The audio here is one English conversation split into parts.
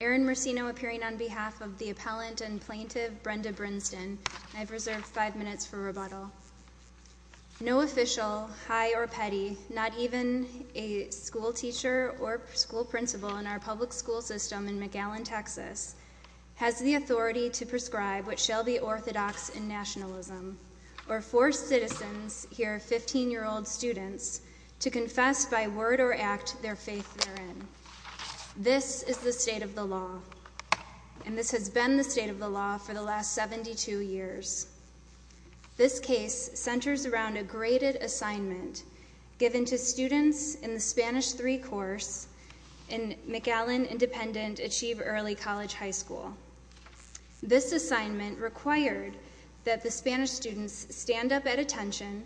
Erin Marcino appearing on behalf of the appellant and plaintiff, Brenda Brinsdon. I've reserved five minutes for rebuttal. No official, high or petty, not even a school teacher or school principal in our public school system in McAllen, Texas, has the authority to prescribe what shall be orthodox and nationalism, or force citizens, here 15-year-old students, to confess by word or act their faith therein. This is the state of the law, and this has been the state of the law for the last 72 years. This case centers around a graded assignment given to students in the Spanish III course in McAllen Independent Achieve Early College High School. This assignment required that the Spanish students stand up at attention,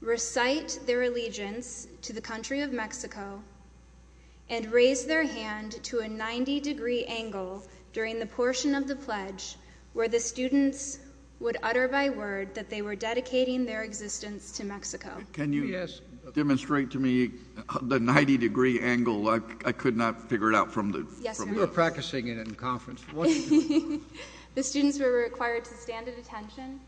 recite their allegiance to the country of Mexico, and raise their hand to a 90-degree angle during the portion of the pledge where the students would utter by word that they were dedicating their existence to Mexico. Can you demonstrate to me the 90-degree angle? I could not figure it out from the... We were practicing it in conference. The students were required to stand at attention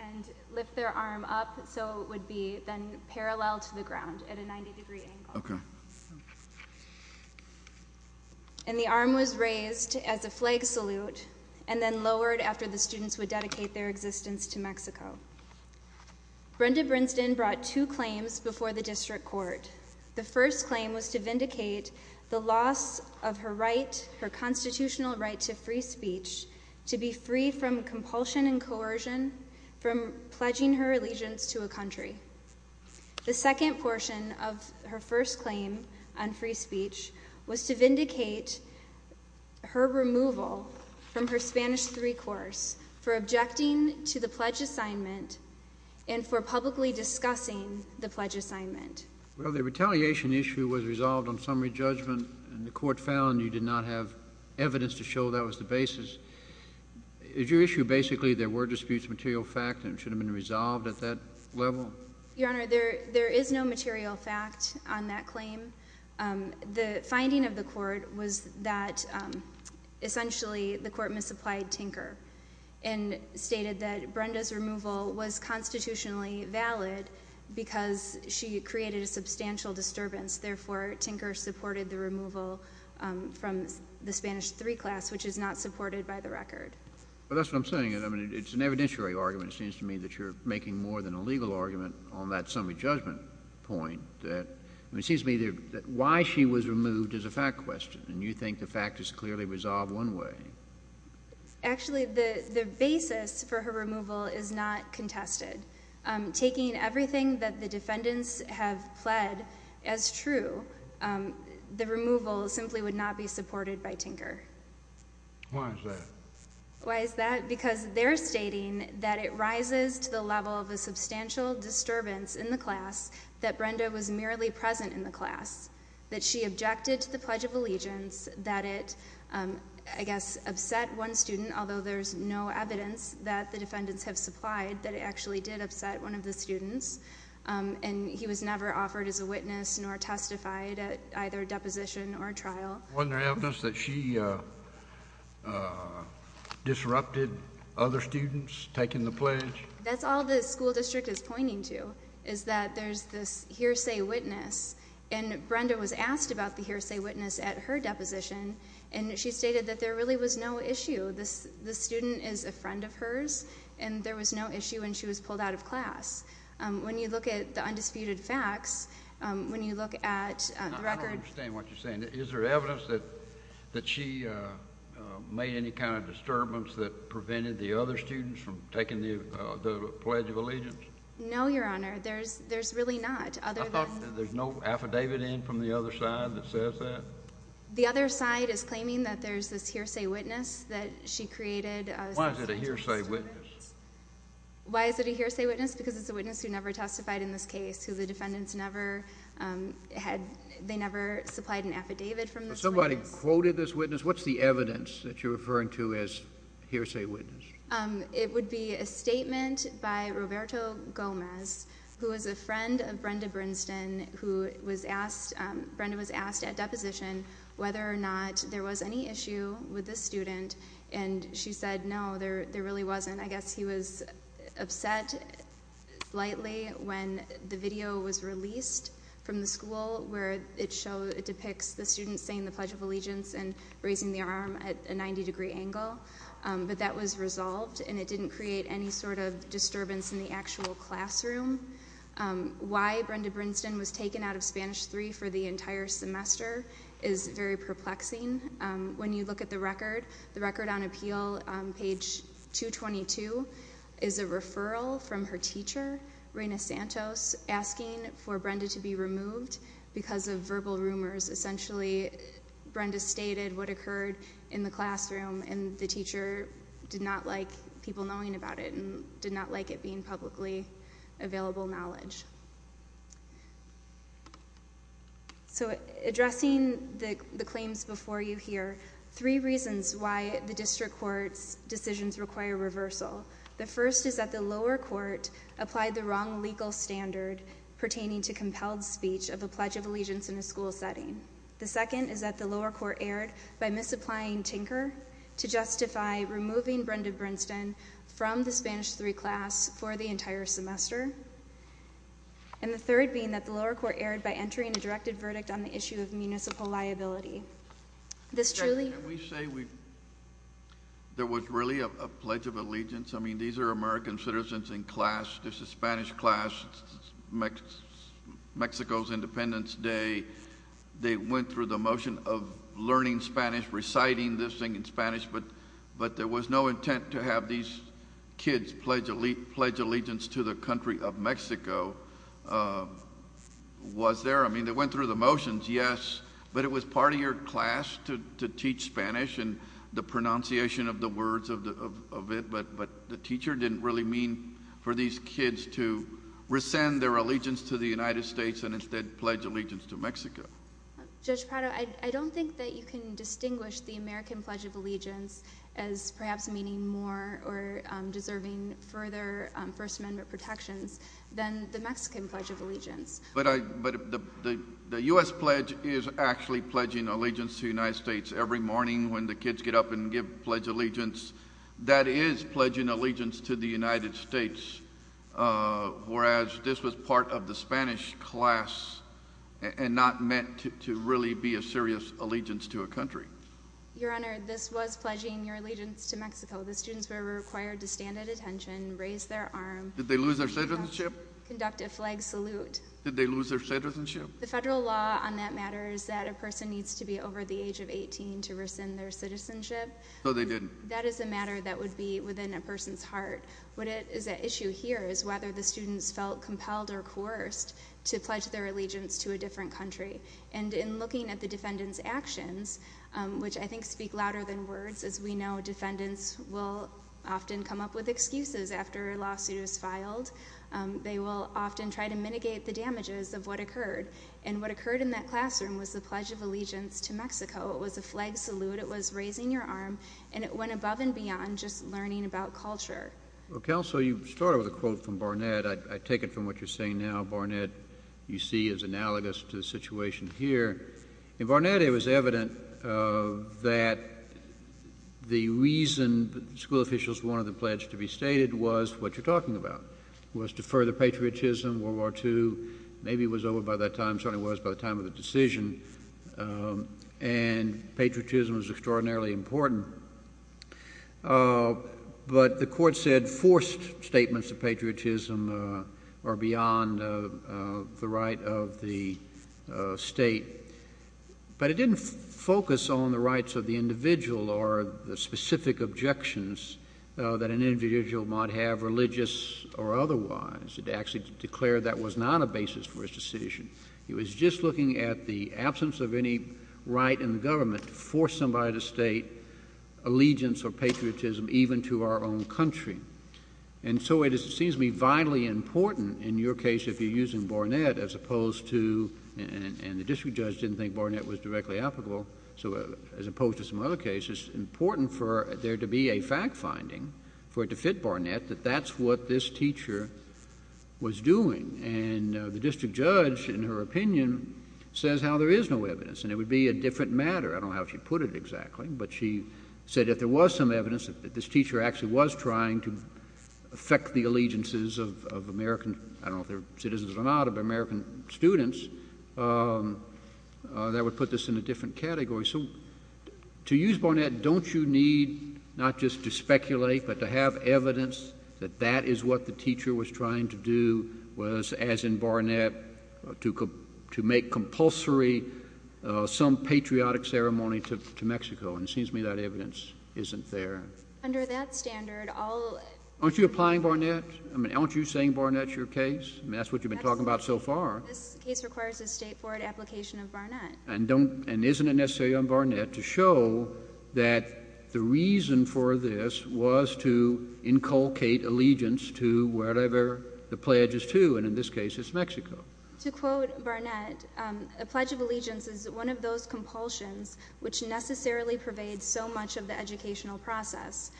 and lift their arm up so it would be then parallel to the ground at a 90-degree angle. And the arm was raised as a flag salute and then lowered after the students would dedicate their existence to Mexico. Brenda Brinston brought two claims before the district court. The first claim was to vindicate the loss of her constitutional right to free speech to be free from compulsion and coercion from pledging her allegiance to a country. The second portion of her first claim on free speech was to vindicate her removal from her Spanish III course for objecting to the pledge assignment and for publicly discussing the pledge assignment. Well, the retaliation issue was resolved on summary judgment, and the court found you did not have evidence to show that was the basis. Is your issue basically there were disputes, material fact, and it should have been resolved at that level? Your Honor, there is no material fact on that claim. The finding of the court was that essentially the court misapplied Tinker and stated that Brenda's removal was constitutionally valid because she created a substantial disturbance. Therefore, Tinker supported the removal from the Spanish III class, which is not supported by the record. Well, that's what I'm saying. It's an evidentiary argument, it seems to me, that you're making more than a legal argument on that summary judgment point. It seems to me that why she was removed is a fact question, and you think the fact is clearly resolved one way. Actually, the basis for her removal is not contested. Taking everything that the defendants have pled as true, the removal simply would not be supported by Tinker. Why is that? Why is that? Because they're stating that it rises to the level of a substantial disturbance in the class that Brenda was merely present in the class, that she objected to the Pledge of Allegiance, that it, I guess, upset one student, although there's no evidence that the defendants have supplied that it actually did upset one of the students, and he was never offered as a witness nor testified at either deposition or trial. Wasn't there evidence that she disrupted other students taking the pledge? That's all the school district is pointing to, is that there's this hearsay witness, and Brenda was asked about the hearsay witness at her deposition, and she stated that there really was no issue. The student is a friend of hers, and there was no issue, and she was pulled out of class. When you look at the undisputed facts, when you look at the record— I don't understand what you're saying. Is there evidence that she made any kind of disturbance that prevented the other students from taking the Pledge of Allegiance? No, Your Honor. There's really not, other than— There's no affidavit in from the other side that says that? The other side is claiming that there's this hearsay witness that she created— Why is it a hearsay witness? Why is it a hearsay witness? Because it's a witness who never testified in this case, who the defendants never had—they never supplied an affidavit from this witness. Somebody quoted this witness? What's the evidence that you're referring to as hearsay witness? It would be a statement by Roberto Gomez, who is a friend of Brenda Brinston, who was asked—Brenda was asked at deposition whether or not there was any issue with this student, and she said, no, there really wasn't. I guess he was upset, blightly, when the video was released from the school where it depicts the student saying the Pledge of Allegiance and raising the arm at a 90-degree angle, but that was resolved, and it didn't create any sort of disturbance in the actual classroom. Why Brenda Brinston was taken out of Spanish 3 for the entire semester is very perplexing. When you look at the record, the record on Appeal, on page 222, is a referral from her teacher, Reyna Santos, asking for Brenda to be removed because of verbal rumors. Essentially, Brenda stated what occurred in the classroom, and the teacher did not like people knowing about it and did not like it being publicly available knowledge. So, addressing the claims before you here, three reasons why the district court's decisions require reversal. The first is that the lower court applied the wrong legal standard pertaining to compelled speech of a Pledge of Allegiance in a school setting. The second is that the lower court erred by misapplying Tinker to justify removing Brenda Brinston from the Spanish 3 class for the entire semester. And the third being that the lower court erred by entering a directed verdict on the issue of municipal liability. This truly— Can we say there was really a Pledge of Allegiance? I mean, these are American citizens in class. This is Spanish class. Mexico's Independence Day. They went through the motion of learning Spanish, reciting this thing in Spanish, but there was no intent to have these kids pledge allegiance to the country of Mexico. Was there? I mean, they went through the motions, yes. But it was part of your class to teach Spanish and the pronunciation of the words of it. But the teacher didn't really mean for these kids to rescind their allegiance to the United States and instead pledge allegiance to Mexico. Judge Prado, I don't think that you can distinguish the American Pledge of Allegiance as perhaps meaning more or deserving further First Amendment protections than the Mexican Pledge of Allegiance. But the U.S. Pledge is actually pledging allegiance to the United States every morning when the kids get up and give Pledge of Allegiance. That is pledging allegiance to the United States, whereas this was part of the Spanish class and not meant to really be a serious allegiance to a country. Your Honor, this was pledging your allegiance to Mexico. The students were required to stand at attention, raise their arm. Did they lose their citizenship? Conduct a flag salute. Did they lose their citizenship? The federal law on that matters that a person needs to be over the age of 18 to rescind their citizenship. So they didn't? That is a matter that would be within a person's heart. What is at issue here is whether the students felt compelled or coerced to pledge their allegiance to a different country. And in looking at the defendant's actions, which I think speak louder than words, as we know, defendants will often come up with excuses after a lawsuit is filed. They will often try to mitigate the damages of what occurred. And what occurred in that classroom was the Pledge of Allegiance to Mexico. It was a flag salute. It was raising your arm, and it went above and beyond just learning about culture. Counsel, you started with a quote from Barnett. I take it from what you're saying now. Barnett, you see, is analogous to the situation here. In Barnett, it was evident that the reason school officials wanted the pledge to be stated was what you're talking about, was to further patriotism, World War II. Maybe it was over by that time. Certainly was by the time of the decision. And patriotism was extraordinarily important. But the court said forced statements of patriotism are beyond the right of the state. But it didn't focus on the rights of the individual or the specific objections that an individual might have, religious or otherwise. It actually declared that was not a basis for his decision. It was just looking at the absence of any right in the government to force somebody to state allegiance or patriotism even to our own country. And so it seems to be vitally important in your case if you're using Barnett as opposed to, and the district judge didn't think Barnett was directly applicable, so as opposed to some other cases, important for there to be a fact finding for it to fit Barnett that that's what this teacher was doing. And the district judge, in her opinion, says how there is no evidence. And it would be a different matter. I don't know how she put it exactly. But she said if there was some evidence that this teacher actually was trying to affect the allegiances of American, I don't know if they were citizens or not, of American students, that would put this in a different category. So to use Barnett, don't you need not just to speculate but to have evidence that that is what the teacher was trying to do was, as in Barnett, to make compulsory some patriotic ceremony to Mexico? And it seems to me that evidence isn't there. Under that standard, I'll... Aren't you applying Barnett? Aren't you saying Barnett's your case? That's what you've been talking about so far. This case requires a state-forward application of Barnett. And isn't it necessary on Barnett to show that the reason for this was to inculcate allegiance to whatever the pledge is to? And in this case, it's Mexico. To quote Barnett, a pledge of allegiance is one of those compulsions which necessarily pervades so much of the educational process.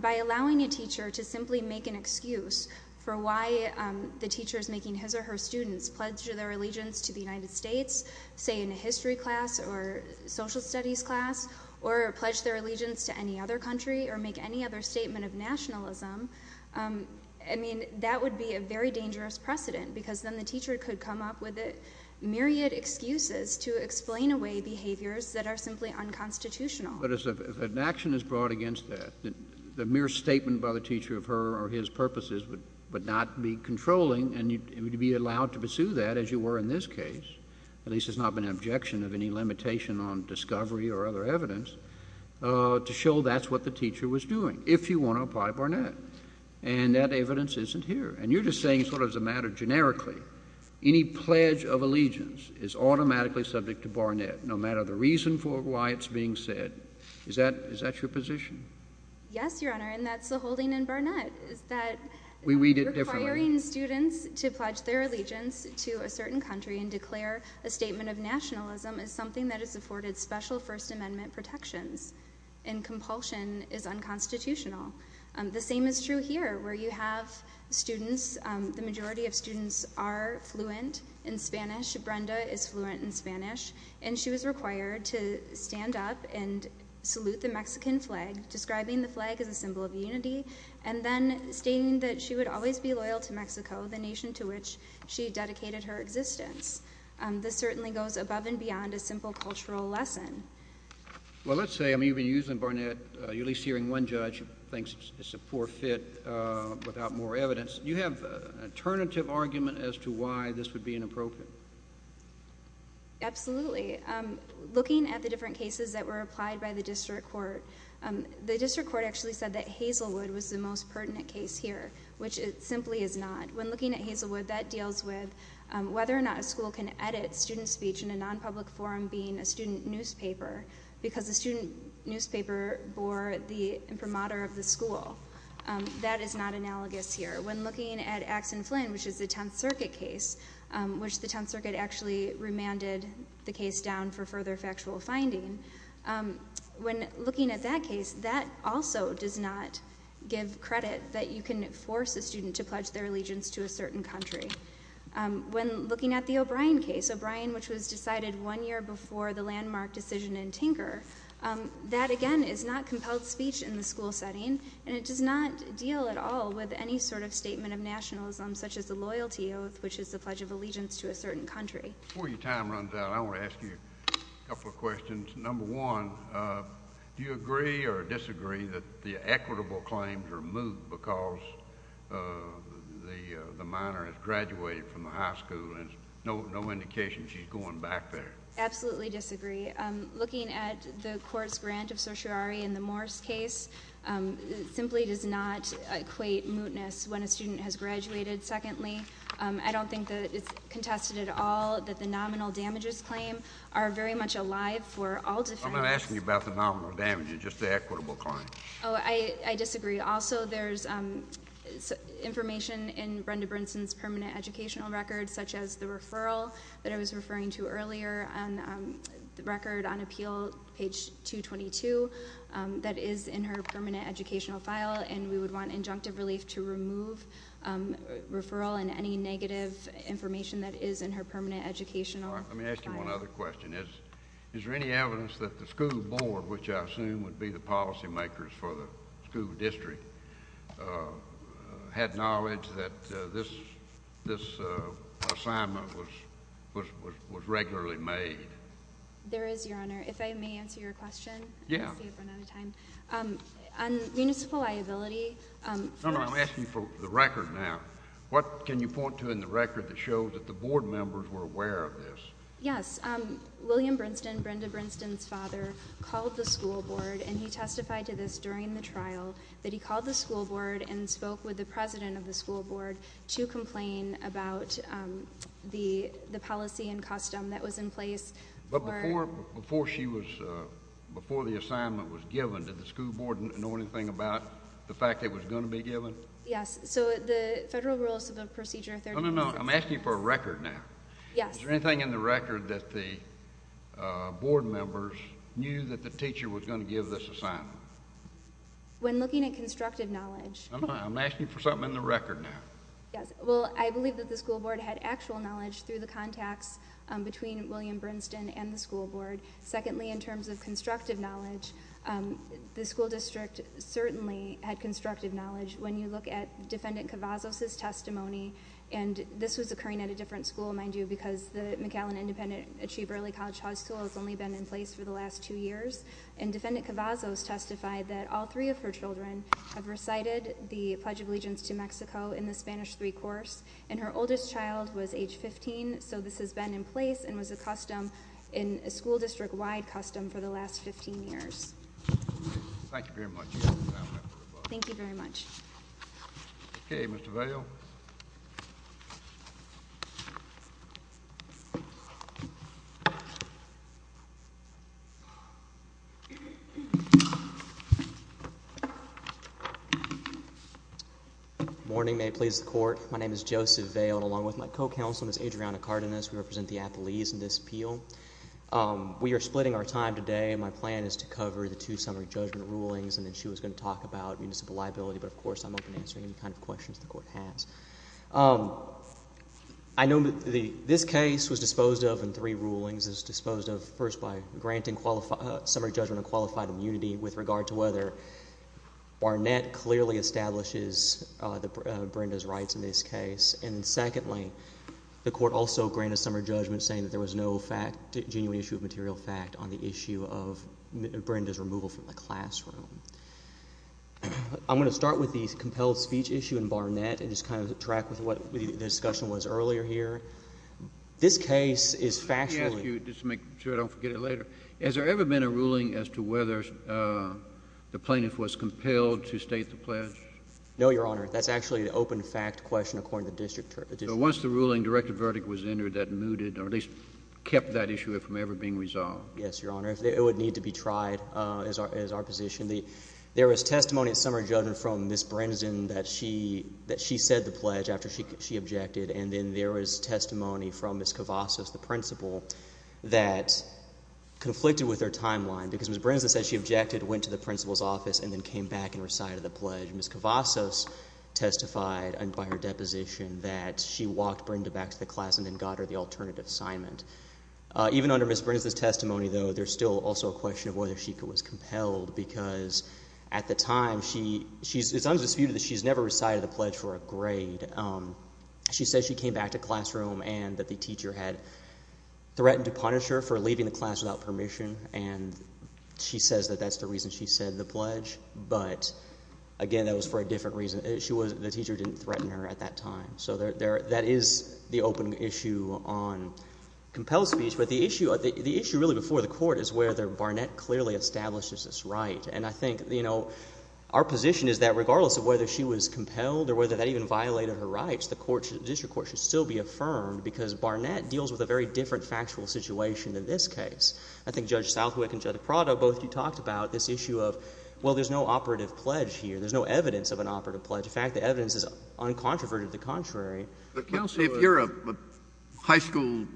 By allowing a teacher to simply make an excuse for why the teacher is making his or her students pledge their allegiance to the United States, say in a history class or social studies class, or pledge their allegiance to any other country or make any other statement of nationalism, I mean, that would be a very dangerous precedent because then the teacher could come up with myriad excuses to explain away behaviors that are simply unconstitutional. But if an action is brought against that, the mere statement by the teacher of her or his purposes would not be controlling and you'd be allowed to pursue that as you were in this case. At least it's not been an objection of any limitation on discovery or other evidence to show that's what the teacher was doing, if you want to apply Barnett. And that evidence isn't here. And you're just saying sort of as a matter generically, any pledge of allegiance is automatically subject to Barnett no matter the reason for why it's being said. Is that your position? Yes, Your Honor, and that's the holding in Barnett, is that requiring students to pledge their allegiance to a certain country and declare a statement of nationalism is something that is afforded special First Amendment protections. And compulsion is unconstitutional. The same is true here where you have students, the majority of students are fluent in Spanish, Brenda is fluent in Spanish, and she was required to stand up and salute the Mexican flag, describing the flag as a symbol of unity, and then stating that she would always be loyal to Mexico, the nation to which she dedicated her existence. This certainly goes above and beyond a simple cultural lesson. Well, let's say I'm even using Barnett, you're at least hearing one judge who thinks it's a poor fit without more evidence. Do you have an alternative argument as to why this would be inappropriate? Absolutely. Looking at the different cases that were applied by the district court, the district court actually said that Hazelwood was the most pertinent case here, which it simply is not. When looking at Hazelwood, that deals with whether or not a school can edit student speech in a non-public forum being a student newspaper, because the student newspaper bore the imprimatur of the school. That is not analogous here. When looking at Axe and Flynn, which is the Tenth Circuit case, which the Tenth Circuit actually remanded the case down for further factual finding, when looking at that case, that also does not give credit that you can force a student to pledge their allegiance to a certain country. When looking at the O'Brien case, O'Brien, which was decided one year before the landmark decision in Tinker, that again is not compelled speech in the school setting, and it does not deal at all with any sort of statement of nationalism, such as the loyalty oath, which is the pledge of allegiance to a certain country. Before your time runs out, I want to ask you a couple of questions. Number one, do you agree or disagree that the equitable claims are moot because the minor has graduated from the high school, and no indication she's going back there? Absolutely disagree. Looking at the court's grant of certiorari in the Morse case, it simply does not equate mootness when a student has graduated. Secondly, I don't think that it's contested at all that the nominal damages claim are very much alive for all defense. I'm not asking you about the nominal damages, just the equitable claims. Oh, I disagree. Also, there's information in Brenda Brinson's permanent educational record, such as the referral that I was referring to earlier, the record on appeal, page 222, that is in her permanent educational file, and we would want injunctive relief to remove referral and any negative information that is in her permanent educational file. Let me ask you one other question. Is there any evidence that the school board, which I assume would be the policy makers for the school district, had knowledge that this assignment was regularly made? There is, Your Honor. If I may answer your question? Yeah. I'll save it for another time. On municipal liability, No, no, I'm asking for the record now. What can you point to in the record that shows that the board members were aware of this? Yes. William Brinson, Brenda Brinson's father, called the school board, and he testified to this during the trial, that he called the school board and spoke with the president of the school board to complain about the policy and custom that was in place. But before the assignment was given, did the school board know anything about the fact that it was going to be given? Yes. So the Federal Rules of Procedure 13... No, no, no. I'm asking for a record now. Yes. Is there anything in the record that the board members knew that the teacher was going to give this assignment? When looking at constructive knowledge... No, no, no. I'm asking for something in the record now. Yes. Well, I believe that the school board had actual knowledge through the contacts between William Brinson and the school board. Secondly, in terms of constructive knowledge, the school district certainly had constructive knowledge. When you look at Defendant Cavazos' testimony, and this was occurring at a different school, mind you, because the McAllen Independent Achieve Early College High School has only been in place for the last two years, and Defendant Cavazos testified that all three of her children have recited the Pledge of Allegiance to Mexico in the Spanish III course, and her oldest child was age 15, so this has been in place and was a custom, a school district-wide custom, for the last 15 years. Thank you very much. Thank you very much. Okay, Mr. Vail. Good morning. May it please the Court. My name is Joseph Vail, and along with my co-counsel, Ms. Adriana Cardenas, we represent the Appellees in this appeal. We are splitting our time today, and my plan is to cover the two summary judgment rulings, and then she was going to talk about municipal liability, but of course I'm open to answering any kind of questions the Court has. I know that this case was disposed of in three rulings. It was disposed of first by granting summary judgment on qualified immunity with regard to whether Barnett clearly establishes Brenda's rights in this case, and then secondly, the Court also granted summary judgment saying that there was no genuine issue of material fact on the issue of Brenda's removal from the classroom. I'm going to start with the compelled speech issue in Barnett and just kind of track with what the discussion was earlier here. This case is factually— Let me ask you, just to make sure I don't forget it later, has there ever been a ruling as to whether the plaintiff was compelled to state the pledge? No, Your Honor. That's actually an open fact question according to the district court. So once the ruling, direct verdict was entered that mooted or at least kept that issue from ever being resolved? Yes, Your Honor. It would need to be tried as our position. There was testimony at summary judgment from Ms. Brinson that she said the pledge after she objected, and then there was testimony from Ms. Cavazos, the principal, that conflicted with her timeline because Ms. Brinson said she objected, went to the principal's office, and then came back and recited the pledge. Ms. Cavazos testified by her deposition that she walked Brenda back to the class and then got her the alternative assignment. Even under Ms. Brinson's testimony, though, there's still also a question of whether she was compelled because at the time, it's undisputed that she's never recited the pledge for a grade. She said she came back to classroom and that the teacher had threatened to punish her for leaving the class without permission, and she says that that's the reason she said the pledge. But, again, that was for a different reason. The teacher didn't threaten her at that time. So that is the open issue on compelled speech. But the issue really before the court is whether Barnett clearly establishes this right. And I think our position is that regardless of whether she was compelled or whether that even violated her rights, the district court should still be affirmed because Barnett deals with a very different factual situation than this case. I think Judge Southwick and Judge Prado, both of you talked about this issue of, well, there's no operative pledge here. There's no evidence of an operative pledge. In fact, the evidence is uncontroverted to the contrary. But, Counsel, if you're a high school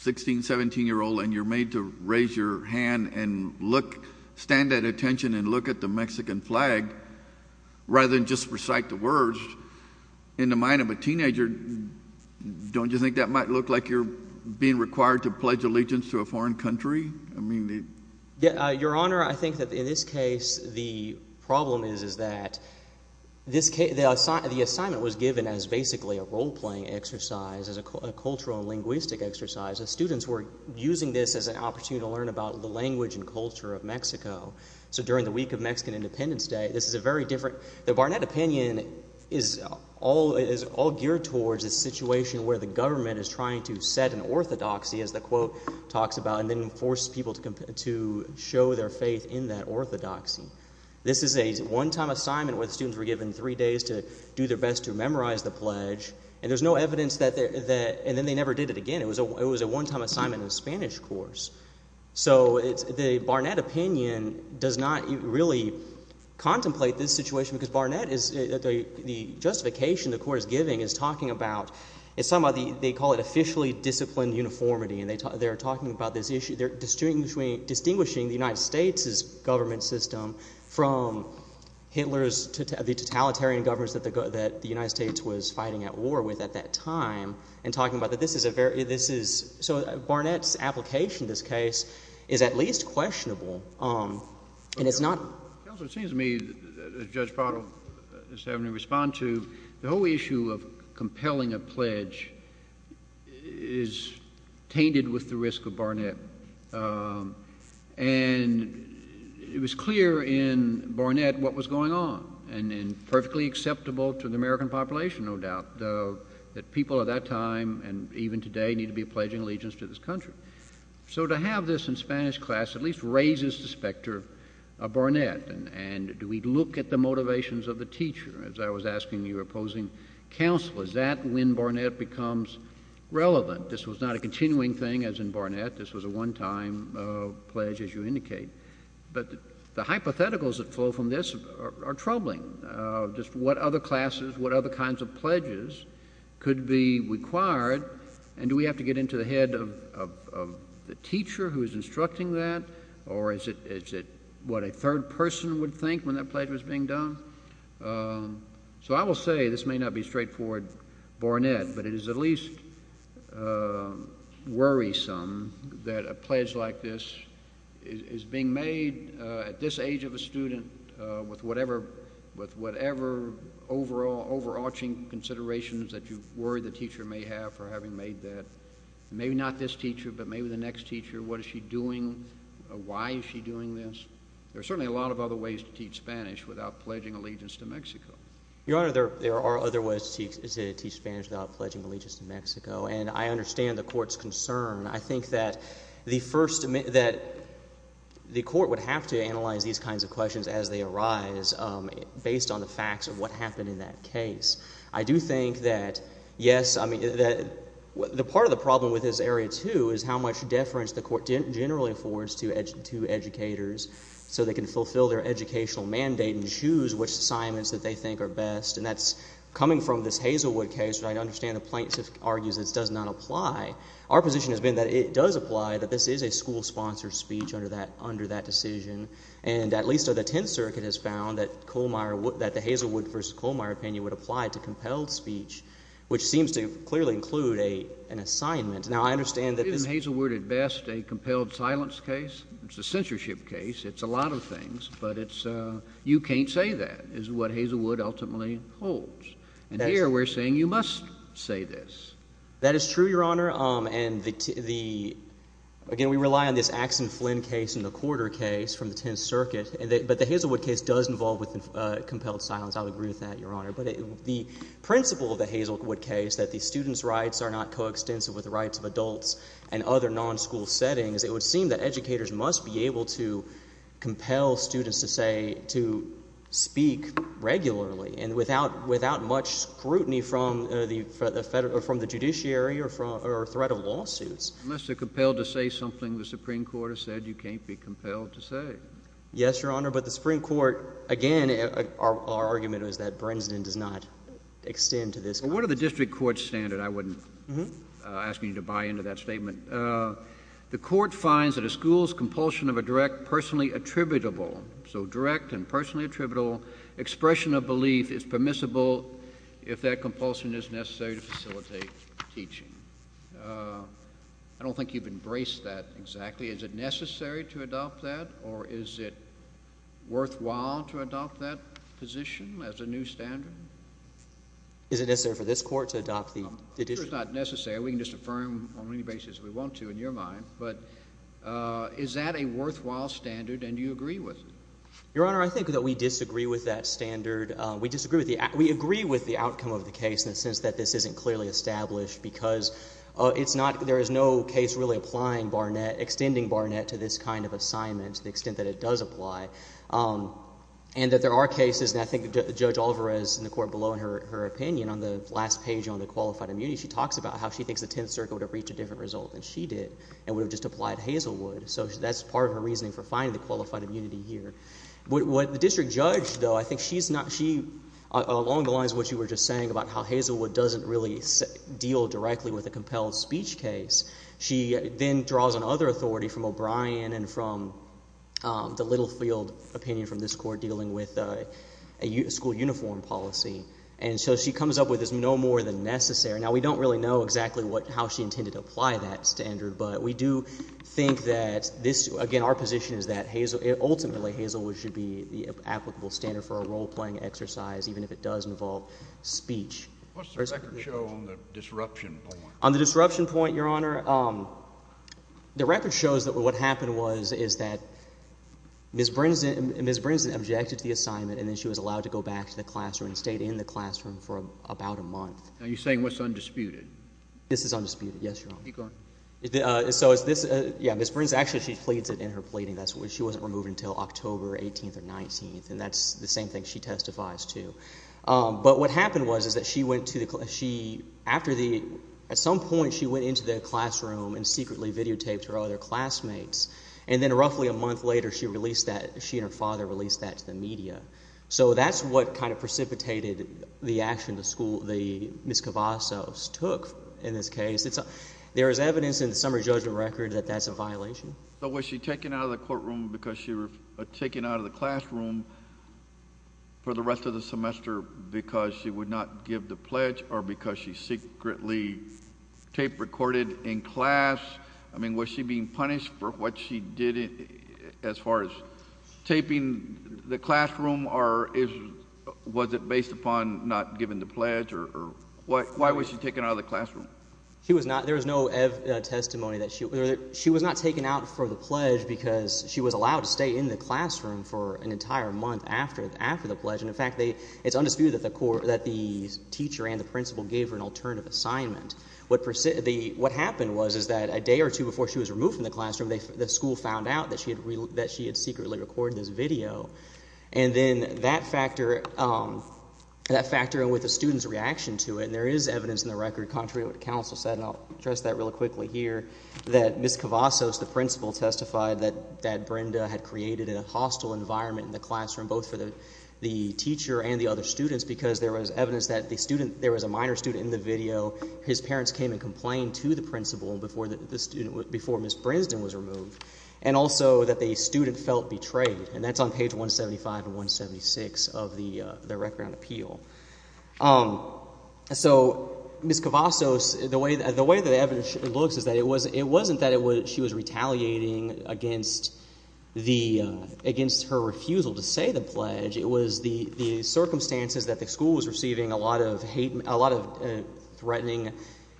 16-, 17-year-old and you're made to raise your hand and look, stand at attention and look at the Mexican flag rather than just recite the words, in the mind of a teenager, don't you think that might look like you're being required to pledge allegiance to a foreign country? Your Honor, I think that in this case the problem is that the assignment was given as basically a role-playing exercise, as a cultural and linguistic exercise. The students were using this as an opportunity to learn about the language and culture of Mexico. So during the week of Mexican Independence Day, this is a very different. The Barnett opinion is all geared towards a situation where the government is trying to set an orthodoxy, as the quote talks about, and then force people to show their faith in that orthodoxy. This is a one-time assignment where the students were given three days to do their best to memorize the pledge, and there's no evidence that they're... and then they never did it again. It was a one-time assignment in a Spanish course. So the Barnett opinion does not really contemplate this situation because Barnett is... the justification the court is giving is talking about... they call it officially disciplined uniformity, and they're talking about this issue... they're distinguishing the United States' government system from Hitler's... the totalitarian governments that the United States was fighting at war with at that time, and talking about that this is a very... this is... so Barnett's application of this case is at least questionable. And it's not... Counselor, it seems to me that Judge Prado is having to respond to... The whole issue of compelling a pledge is tainted with the risk of Barnett. And it was clear in Barnett what was going on, and perfectly acceptable to the American population, no doubt, that people at that time, and even today, need to be pledging allegiance to this country. So to have this in Spanish class at least raises the specter of Barnett, and do we look at the motivations of the teacher, as I was asking you opposing counsel, is that when Barnett becomes relevant? This was not a continuing thing as in Barnett. This was a one-time pledge, as you indicate. But the hypotheticals that flow from this are troubling. Just what other classes, what other kinds of pledges could be required, and do we have to get into the head of the teacher who is instructing that, or is it what a third person would think when that pledge was being done? So I will say this may not be straightforward Barnett, but it is at least worrisome that a pledge like this is being made at this age of a student with whatever overarching considerations that you worry the teacher may have for having made that. Maybe not this teacher, but maybe the next teacher. What is she doing? Why is she doing this? There are certainly a lot of other ways to teach Spanish without pledging allegiance to Mexico. Your Honor, there are other ways to teach Spanish without pledging allegiance to Mexico, and I understand the court's concern. I think that the court would have to analyze these kinds of questions as they arise based on the facts of what happened in that case. I do think that, yes, the part of the problem with this area, too, is how much deference the court generally affords to educators so they can fulfill their educational mandate and choose which assignments that they think are best, and that's coming from this Hazelwood case, which I understand the plaintiff argues does not apply. Our position has been that it does apply, that this is a school-sponsored speech under that decision, and at least the Tenth Circuit has found that the Hazelwood v. Kohlmeyer opinion would apply to compelled speech, which seems to clearly include an assignment. Now, I understand that this— Isn't Hazelwood at best a compelled silence case? It's a censorship case. It's a lot of things, but you can't say that is what Hazelwood ultimately holds. And here we're saying you must say this. That is true, Your Honor. Again, we rely on this Axe and Flynn case and the quarter case from the Tenth Circuit, but the Hazelwood case does involve compelled silence. I would agree with that, Your Honor. But the principle of the Hazelwood case, that the student's rights are not coextensive with the rights of adults and other non-school settings, it would seem that educators must be able to compel students to say, to speak regularly and without much scrutiny from the Judiciary or threat of lawsuits. Unless they're compelled to say something the Supreme Court has said, you can't be compelled to say. Yes, Your Honor. But the Supreme Court, again, our argument was that Brensden does not extend to this context. Well, what are the district court's standards? I wouldn't ask you to buy into that statement. The court finds that a school's compulsion of a direct, personally attributable, so direct and personally attributable expression of belief is permissible if that compulsion is necessary to facilitate teaching. I don't think you've embraced that exactly. Is it necessary to adopt that, or is it worthwhile to adopt that position as a new standard? Is it necessary for this Court to adopt the addition? I'm sure it's not necessary. We can just affirm on any basis we want to in your mind. But is that a worthwhile standard, and do you agree with it? Your Honor, I think that we disagree with that standard. We disagree with the outcome of the case in the sense that this isn't clearly established, because it's not – there is no case really applying Barnett, extending Barnett to this kind of assignment to the extent that it does apply. And that there are cases, and I think Judge Alvarez in the court below in her opinion on the last page on the qualified immunity, she talks about how she thinks the Tenth Circuit would have reached a different result than she did and would have just applied Hazelwood. So that's part of her reasoning for finding the qualified immunity here. What the district judge, though, I think she's not – she – along the lines of what you were just saying about how Hazelwood doesn't really deal directly with a compelled speech case, she then draws on other authority from O'Brien and from the Littlefield opinion from this Court dealing with a school uniform policy. And so she comes up with this no more than necessary. Now, we don't really know exactly what – how she intended to apply that standard, but we do think that this – again, our position is that Hazel – ultimately Hazelwood should be the applicable standard for a role-playing exercise, even if it does involve speech. What's the record show on the disruption point? On the disruption point, Your Honor, the record shows that what happened was – is that Ms. Brinson objected to the assignment, and then she was allowed to go back to the classroom and stayed in the classroom for about a month. Are you saying what's undisputed? This is undisputed, yes, Your Honor. Keep going. So is this – yeah, Ms. Brinson – actually she pleads it in her pleading. She wasn't removed until October 18th or 19th, and that's the same thing she testifies to. But what happened was is that she went to the – she – after the – at some point she went into the classroom and secretly videotaped her other classmates, and then roughly a month later she released that – she and her father released that to the media. So that's what kind of precipitated the action the school – the – Ms. Cavazos took in this case. There is evidence in the summary judgment record that that's a violation. So was she taken out of the courtroom because she – taken out of the classroom for the rest of the semester because she would not give the pledge or because she secretly tape-recorded in class? I mean was she being punished for what she did as far as taping the classroom or is – was it based upon not giving the pledge or – why was she taken out of the classroom? She was not – there was no testimony that she – she was not taken out for the pledge because she was allowed to stay in the classroom for an entire month after the pledge. And, in fact, they – it's undisputed that the teacher and the principal gave her an alternative assignment. What happened was is that a day or two before she was removed from the classroom, the school found out that she had secretly recorded this video. And then that factor – that factoring with the student's reaction to it, and there is evidence in the record contrary to what the counsel said, and I'll address that really quickly here, that Ms. Cavazos, the principal, testified that Brenda had created a hostile environment in the classroom both for the teacher and the other students because there was evidence that the student – there was a minor student in the video. His parents came and complained to the principal before the student – before Ms. Brinsden was removed and also that the student felt betrayed. And that's on page 175 and 176 of the record on appeal. So Ms. Cavazos – the way the evidence looks is that it wasn't that she was retaliating against the – against her refusal to say the pledge. It was the circumstances that the school was receiving a lot of hate – a lot of threatening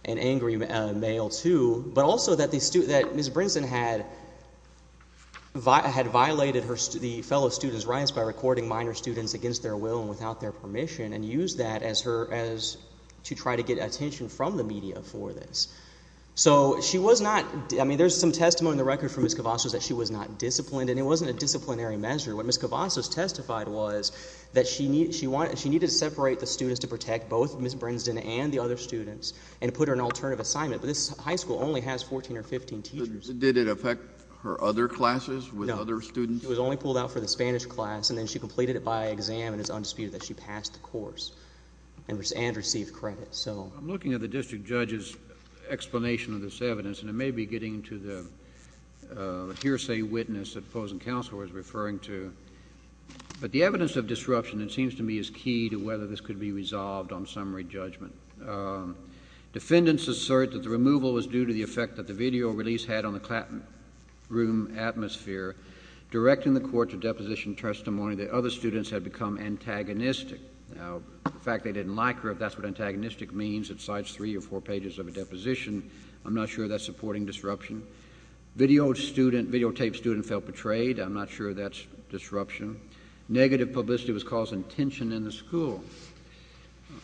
and angry mail to, but also that the – that Ms. Brinsden had violated her – the fellow students' rights by recording minor students against their will and without their permission and used that as her – as to try to get attention from the media for this. So she was not – I mean there's some testimony in the record from Ms. Cavazos that she was not disciplined, and it wasn't a disciplinary measure. What Ms. Cavazos testified was that she needed to separate the students to protect both Ms. Brinsden and the other students and put her in an alternative assignment. But this high school only has 14 or 15 teachers. Did it affect her other classes with other students? No. It was only pulled out for the Spanish class, and then she completed it by exam and is undisputed that she passed the course and received credit. I'm looking at the district judge's explanation of this evidence, and it may be getting to the hearsay witness that opposing counsel was referring to. But the evidence of disruption, it seems to me, is key to whether this could be resolved on summary judgment. Defendants assert that the removal was due to the effect that the video release had on the classroom atmosphere, directing the court to deposition testimony that other students had become antagonistic. Now, the fact they didn't like her, if that's what antagonistic means, it cites three or four pages of a deposition. I'm not sure that's supporting disruption. Video student – videotape student felt betrayed. I'm not sure that's disruption. Negative publicity was causing tension in the school.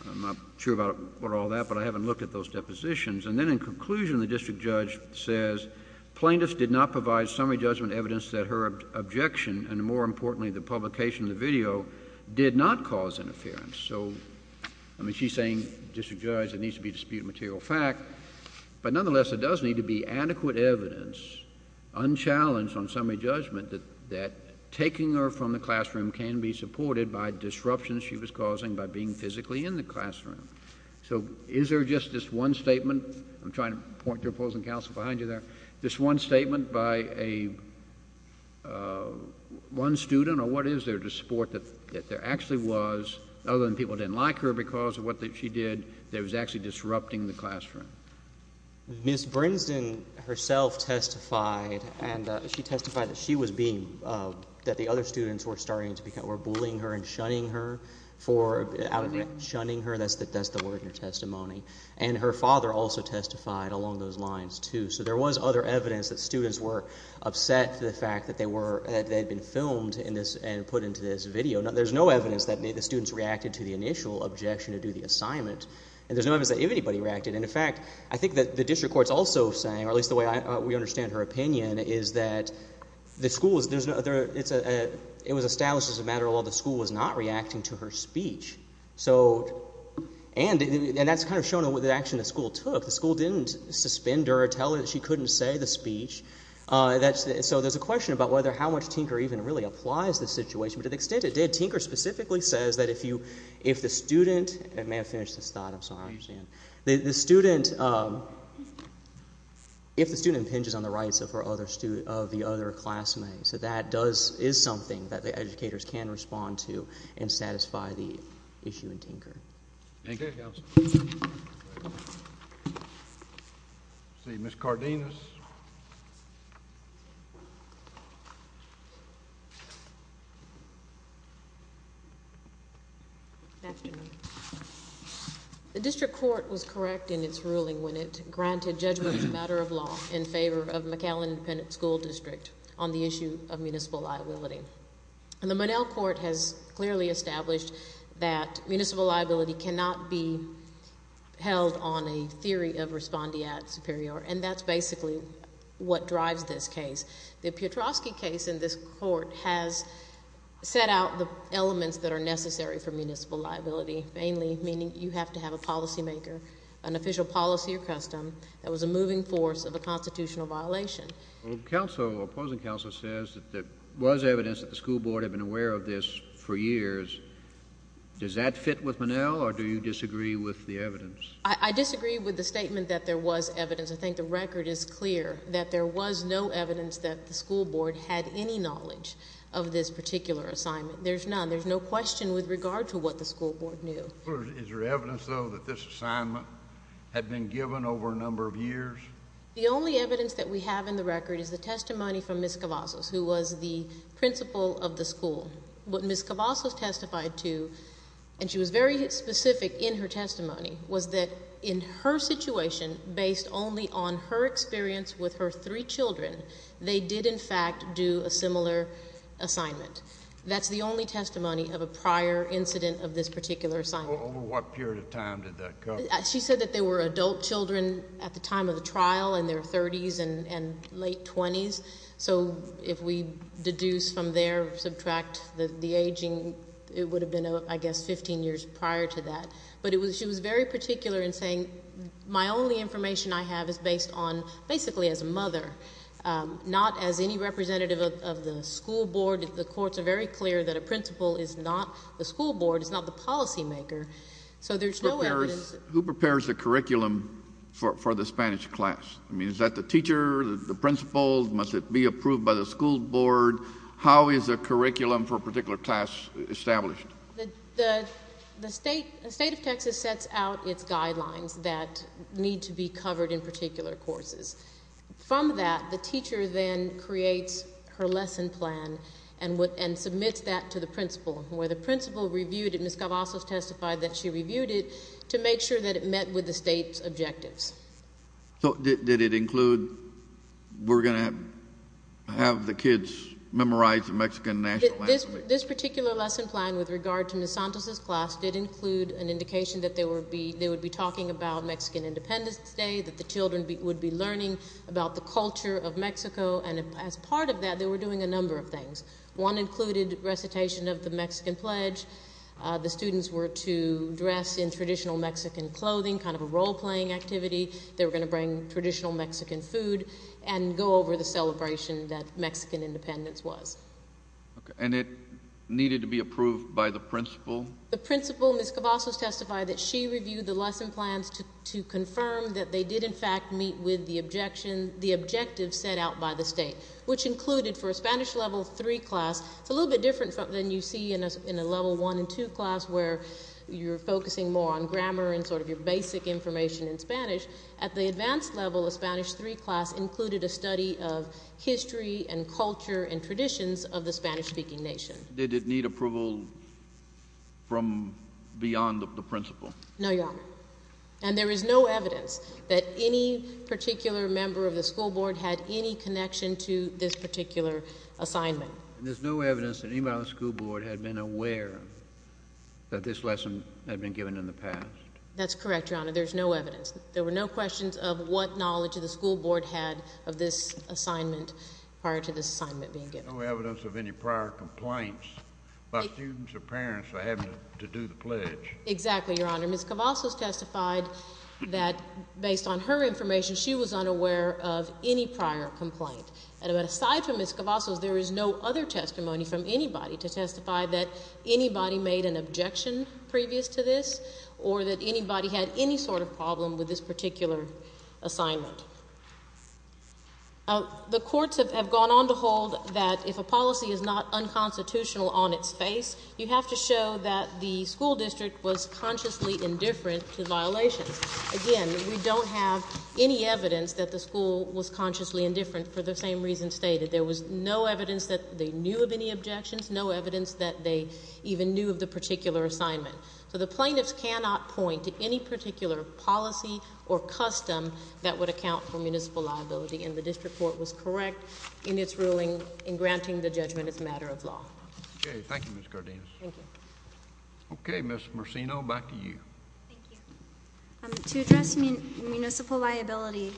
I'm not sure about all that, but I haven't looked at those depositions. And then in conclusion, the district judge says plaintiffs did not provide summary judgment evidence that her objection, and more importantly, the publication of the video, did not cause interference. So, I mean, she's saying, district judge, it needs to be disputed material fact. But nonetheless, there does need to be adequate evidence, unchallenged on summary judgment, that taking her from the classroom can be supported by disruptions she was causing by being physically in the classroom. So, is there just this one statement? I'm trying to point to opposing counsel behind you there. This one statement by one student, or what is there to support that there actually was, other than people didn't like her because of what she did, that was actually disrupting the classroom? Ms. Brinsden herself testified, and she testified that she was being – that the other students were starting to – were bullying her and shunning her for – shunning her. That's the word in her testimony. And her father also testified along those lines too. So there was other evidence that students were upset for the fact that they were – that they had been filmed and put into this video. There's no evidence that the students reacted to the initial objection to do the assignment. And there's no evidence that anybody reacted. And, in fact, I think that the district court is also saying, or at least the way we understand her opinion, is that the school – it was established as a matter of law the school was not reacting to her speech. So – and that's kind of shown in the action the school took. The school didn't suspend her or tell her that she couldn't say the speech. So there's a question about whether – how much Tinker even really applies the situation. But to the extent it did, Tinker specifically says that if you – if the student – I may have finished this thought. I'm sorry. I don't understand. The student – if the student impinges on the rights of her other – of the other classmate. So that does – is something that the educators can respond to and satisfy the issue in Tinker. Thank you. Thank you, Counsel. Let's see. Ms. Cardenas. Good afternoon. The district court was correct in its ruling when it granted judgment as a matter of law in favor of McAllen Independent School District on the issue of municipal liability. And the Monell Court has clearly established that municipal liability cannot be held on a theory of respondeat superior. And that's basically what drives this case. The Piotrowski case in this court has set out the elements that are necessary for municipal liability, mainly meaning you have to have a policymaker, an official policy or custom that was a moving force of a constitutional violation. Counsel – opposing counsel says that there was evidence that the school board had been aware of this for years. Does that fit with Monell or do you disagree with the evidence? I disagree with the statement that there was evidence. I think the record is clear that there was no evidence that the school board had any knowledge of this particular assignment. There's none. There's no question with regard to what the school board knew. Is there evidence, though, that this assignment had been given over a number of years? The only evidence that we have in the record is the testimony from Ms. Cavazos, who was the principal of the school. What Ms. Cavazos testified to, and she was very specific in her testimony, was that in her situation, based only on her experience with her three children, they did, in fact, do a similar assignment. That's the only testimony of a prior incident of this particular assignment. Over what period of time did that come? She said that they were adult children at the time of the trial in their 30s and late 20s. So if we deduce from there, subtract the aging, it would have been, I guess, 15 years prior to that. But she was very particular in saying my only information I have is based on basically as a mother, not as any representative of the school board. The courts are very clear that a principal is not the school board, is not the policymaker. So there's no evidence... Who prepares the curriculum for the Spanish class? I mean, is that the teacher, the principal? Must it be approved by the school board? How is a curriculum for a particular class established? The State of Texas sets out its guidelines that need to be covered in particular courses. From that, the teacher then creates her lesson plan and submits that to the principal. Where the principal reviewed it, Ms. Cavazos testified that she reviewed it to make sure that it met with the State's objectives. So did it include, we're going to have the kids memorize the Mexican national anthem? This particular lesson plan with regard to Ms. Santos' class did include an indication that they would be talking about Mexican Independence Day, that the children would be learning about the culture of Mexico. And as part of that, they were doing a number of things. One included recitation of the Mexican Pledge. The students were to dress in traditional Mexican clothing, kind of a role-playing activity. They were going to bring traditional Mexican food and go over the celebration that Mexican Independence was. And it needed to be approved by the principal? The principal, Ms. Cavazos, testified that she reviewed the lesson plans to confirm that they did, in fact, meet with the objective set out by the State, which included for a Spanish Level 3 class, it's a little bit different than you see in a Level 1 and 2 class, where you're focusing more on grammar and sort of your basic information in Spanish. At the advanced level, a Spanish 3 class included a study of history and culture and traditions of the Spanish-speaking nation. Did it need approval from beyond the principal? No, Your Honor. And there is no evidence that any particular member of the school board had any connection to this particular assignment? There's no evidence that anybody on the school board had been aware that this lesson had been given in the past? That's correct, Your Honor. There's no evidence. There were no questions of what knowledge the school board had of this assignment prior to this assignment being given. There's no evidence of any prior complaints by students or parents for having to do the pledge? Exactly, Your Honor. Ms. Cavazos testified that, based on her information, she was unaware of any prior complaint. And aside from Ms. Cavazos, there is no other testimony from anybody to testify that anybody made an objection previous to this or that anybody had any sort of problem with this particular assignment. The courts have gone on to hold that if a policy is not unconstitutional on its face, you have to show that the school district was consciously indifferent to violations. Again, we don't have any evidence that the school was consciously indifferent for the same reasons stated. There was no evidence that they knew of any objections, no evidence that they even knew of the particular assignment. So the plaintiffs cannot point to any particular policy or custom that would account for municipal liability. And the district court was correct in its ruling in granting the judgment as a matter of law. Okay, thank you, Ms. Cardenas. Thank you. Okay, Ms. Marcino, back to you. Thank you. To address municipal liability,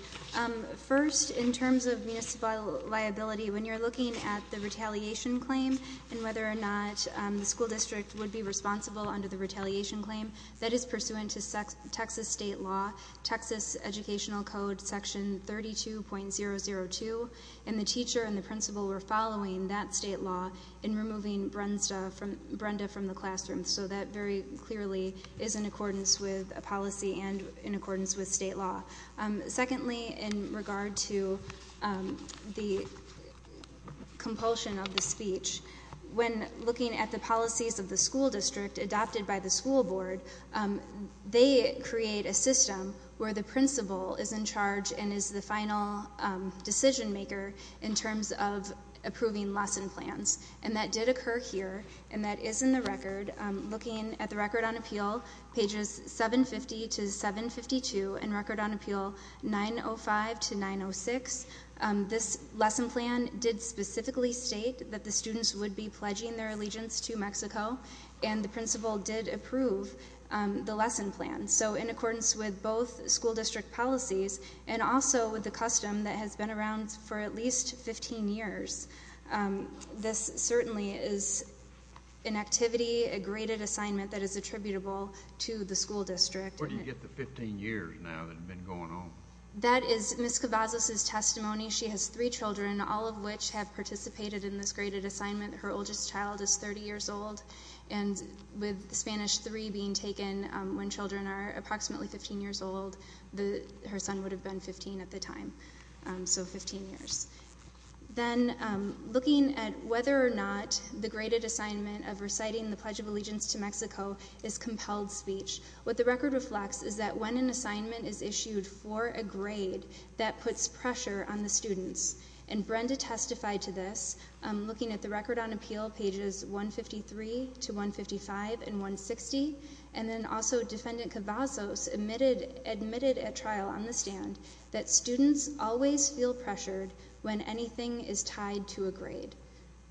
first, in terms of municipal liability, when you're looking at the retaliation claim and whether or not the school district would be responsible under the retaliation claim, that is pursuant to Texas state law, Texas Educational Code section 32.002, and the teacher and the principal were following that state law in removing Brenda from the classroom. So that very clearly is in accordance with a policy and in accordance with state law. Secondly, in regard to the compulsion of the speech, when looking at the policies of the school district adopted by the school board, they create a system where the principal is in charge and is the final decision maker in terms of approving lesson plans. And that did occur here, and that is in the record. Looking at the record on appeal, pages 750 to 752, and record on appeal 905 to 906, this lesson plan did specifically state that the students would be pledging their allegiance to Mexico, and the principal did approve the lesson plan. So in accordance with both school district policies and also with the custom that has been around for at least 15 years, this certainly is an activity, a graded assignment that is attributable to the school district. Where do you get the 15 years now that have been going on? That is Ms. Cavazos' testimony. She has three children, all of which have participated in this graded assignment. Her oldest child is 30 years old, and with Spanish three being taken when children are approximately 15 years old, her son would have been 15 at the time, so 15 years. Then, looking at whether or not the graded assignment of reciting the Pledge of Allegiance to Mexico is compelled speech, what the record reflects is that when an assignment is issued for a grade, that puts pressure on the students. And Brenda testified to this, looking at the Record on Appeal, pages 153 to 155 and 160, and then also Defendant Cavazos admitted at trial on the stand that students always feel pressured when anything is tied to a grade.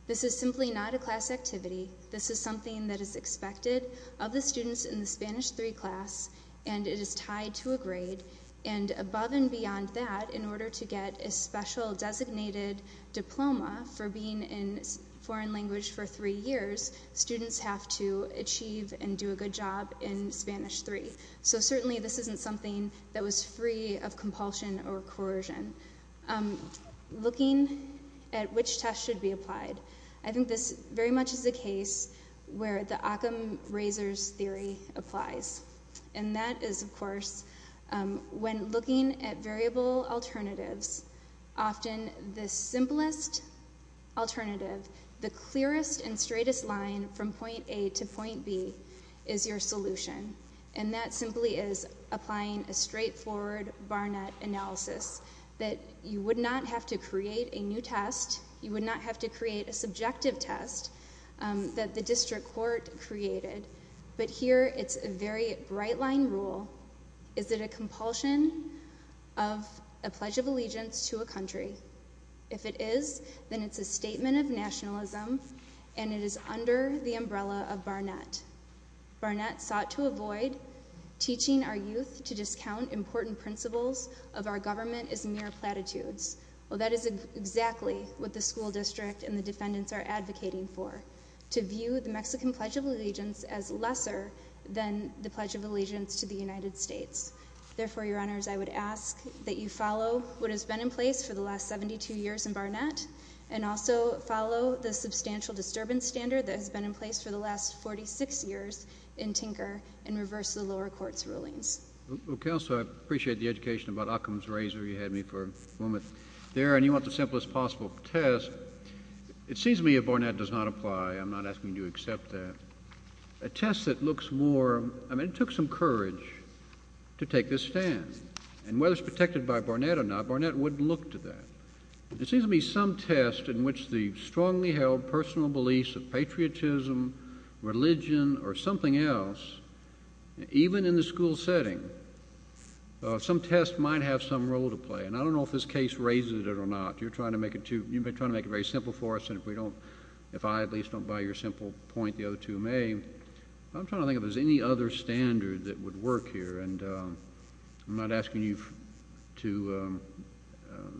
This is simply not a class activity. This is something that is expected of the students in the Spanish three class, and it is tied to a grade. And above and beyond that, in order to get a special designated diploma for being in foreign language for three years, students have to achieve and do a good job in Spanish three. So certainly this isn't something that was free of compulsion or coercion. Looking at which tests should be applied, I think this very much is the case where the Occam-Razors theory applies. And that is, of course, when looking at variable alternatives, often the simplest alternative, the clearest and straightest line from point A to point B is your solution. And that simply is applying a straightforward Barnett analysis that you would not have to create a new test, you would not have to create a subjective test that the district court created. But here it's a very bright line rule. Is it a compulsion of a Pledge of Allegiance to a country? If it is, then it's a statement of nationalism, and it is under the umbrella of Barnett. Barnett sought to avoid teaching our youth to discount important principles of our government as mere platitudes. Well, that is exactly what the school district and the defendants are advocating for, to view the Mexican Pledge of Allegiance as lesser than the Pledge of Allegiance to the United States. Therefore, Your Honors, I would ask that you follow what has been in place for the last 72 years in Barnett and also follow the substantial disturbance standard that has been in place for the last 46 years in Tinker and reverse the lower court's rulings. Well, Counselor, I appreciate the education about Occam's Razor. You had me for a moment there. And you want the simplest possible test. It seems to me if Barnett does not apply, I'm not asking you to accept that, a test that looks more I mean, it took some courage to take this stand. And whether it's protected by Barnett or not, Barnett wouldn't look to that. It seems to me some test in which the strongly held personal beliefs of patriotism, religion, or something else, even in the school setting, some test might have some role to play. And I don't know if this case raises it or not. You've been trying to make it very simple for us. And if I at least don't buy your simple point, the other two may. I'm trying to think if there's any other standard that would work here. And I'm not asking you to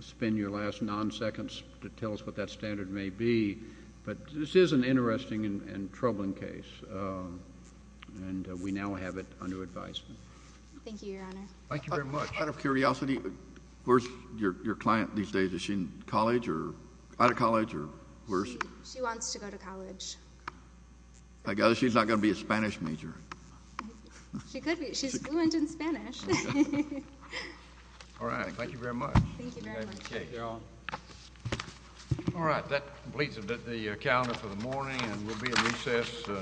spend your last non-seconds to tell us what that standard may be. But this is an interesting and troubling case. And we now have it under advisement. Thank you, Your Honor. Thank you very much. Out of curiosity, where's your client these days? Is she in college or out of college or where is she? She wants to go to college. I guess she's not going to be a Spanish major. She could be. She's fluent in Spanish. All right. Thank you very much. Thank you very much. That completes the calendar for the morning. And we'll be at recess until 2 p.m.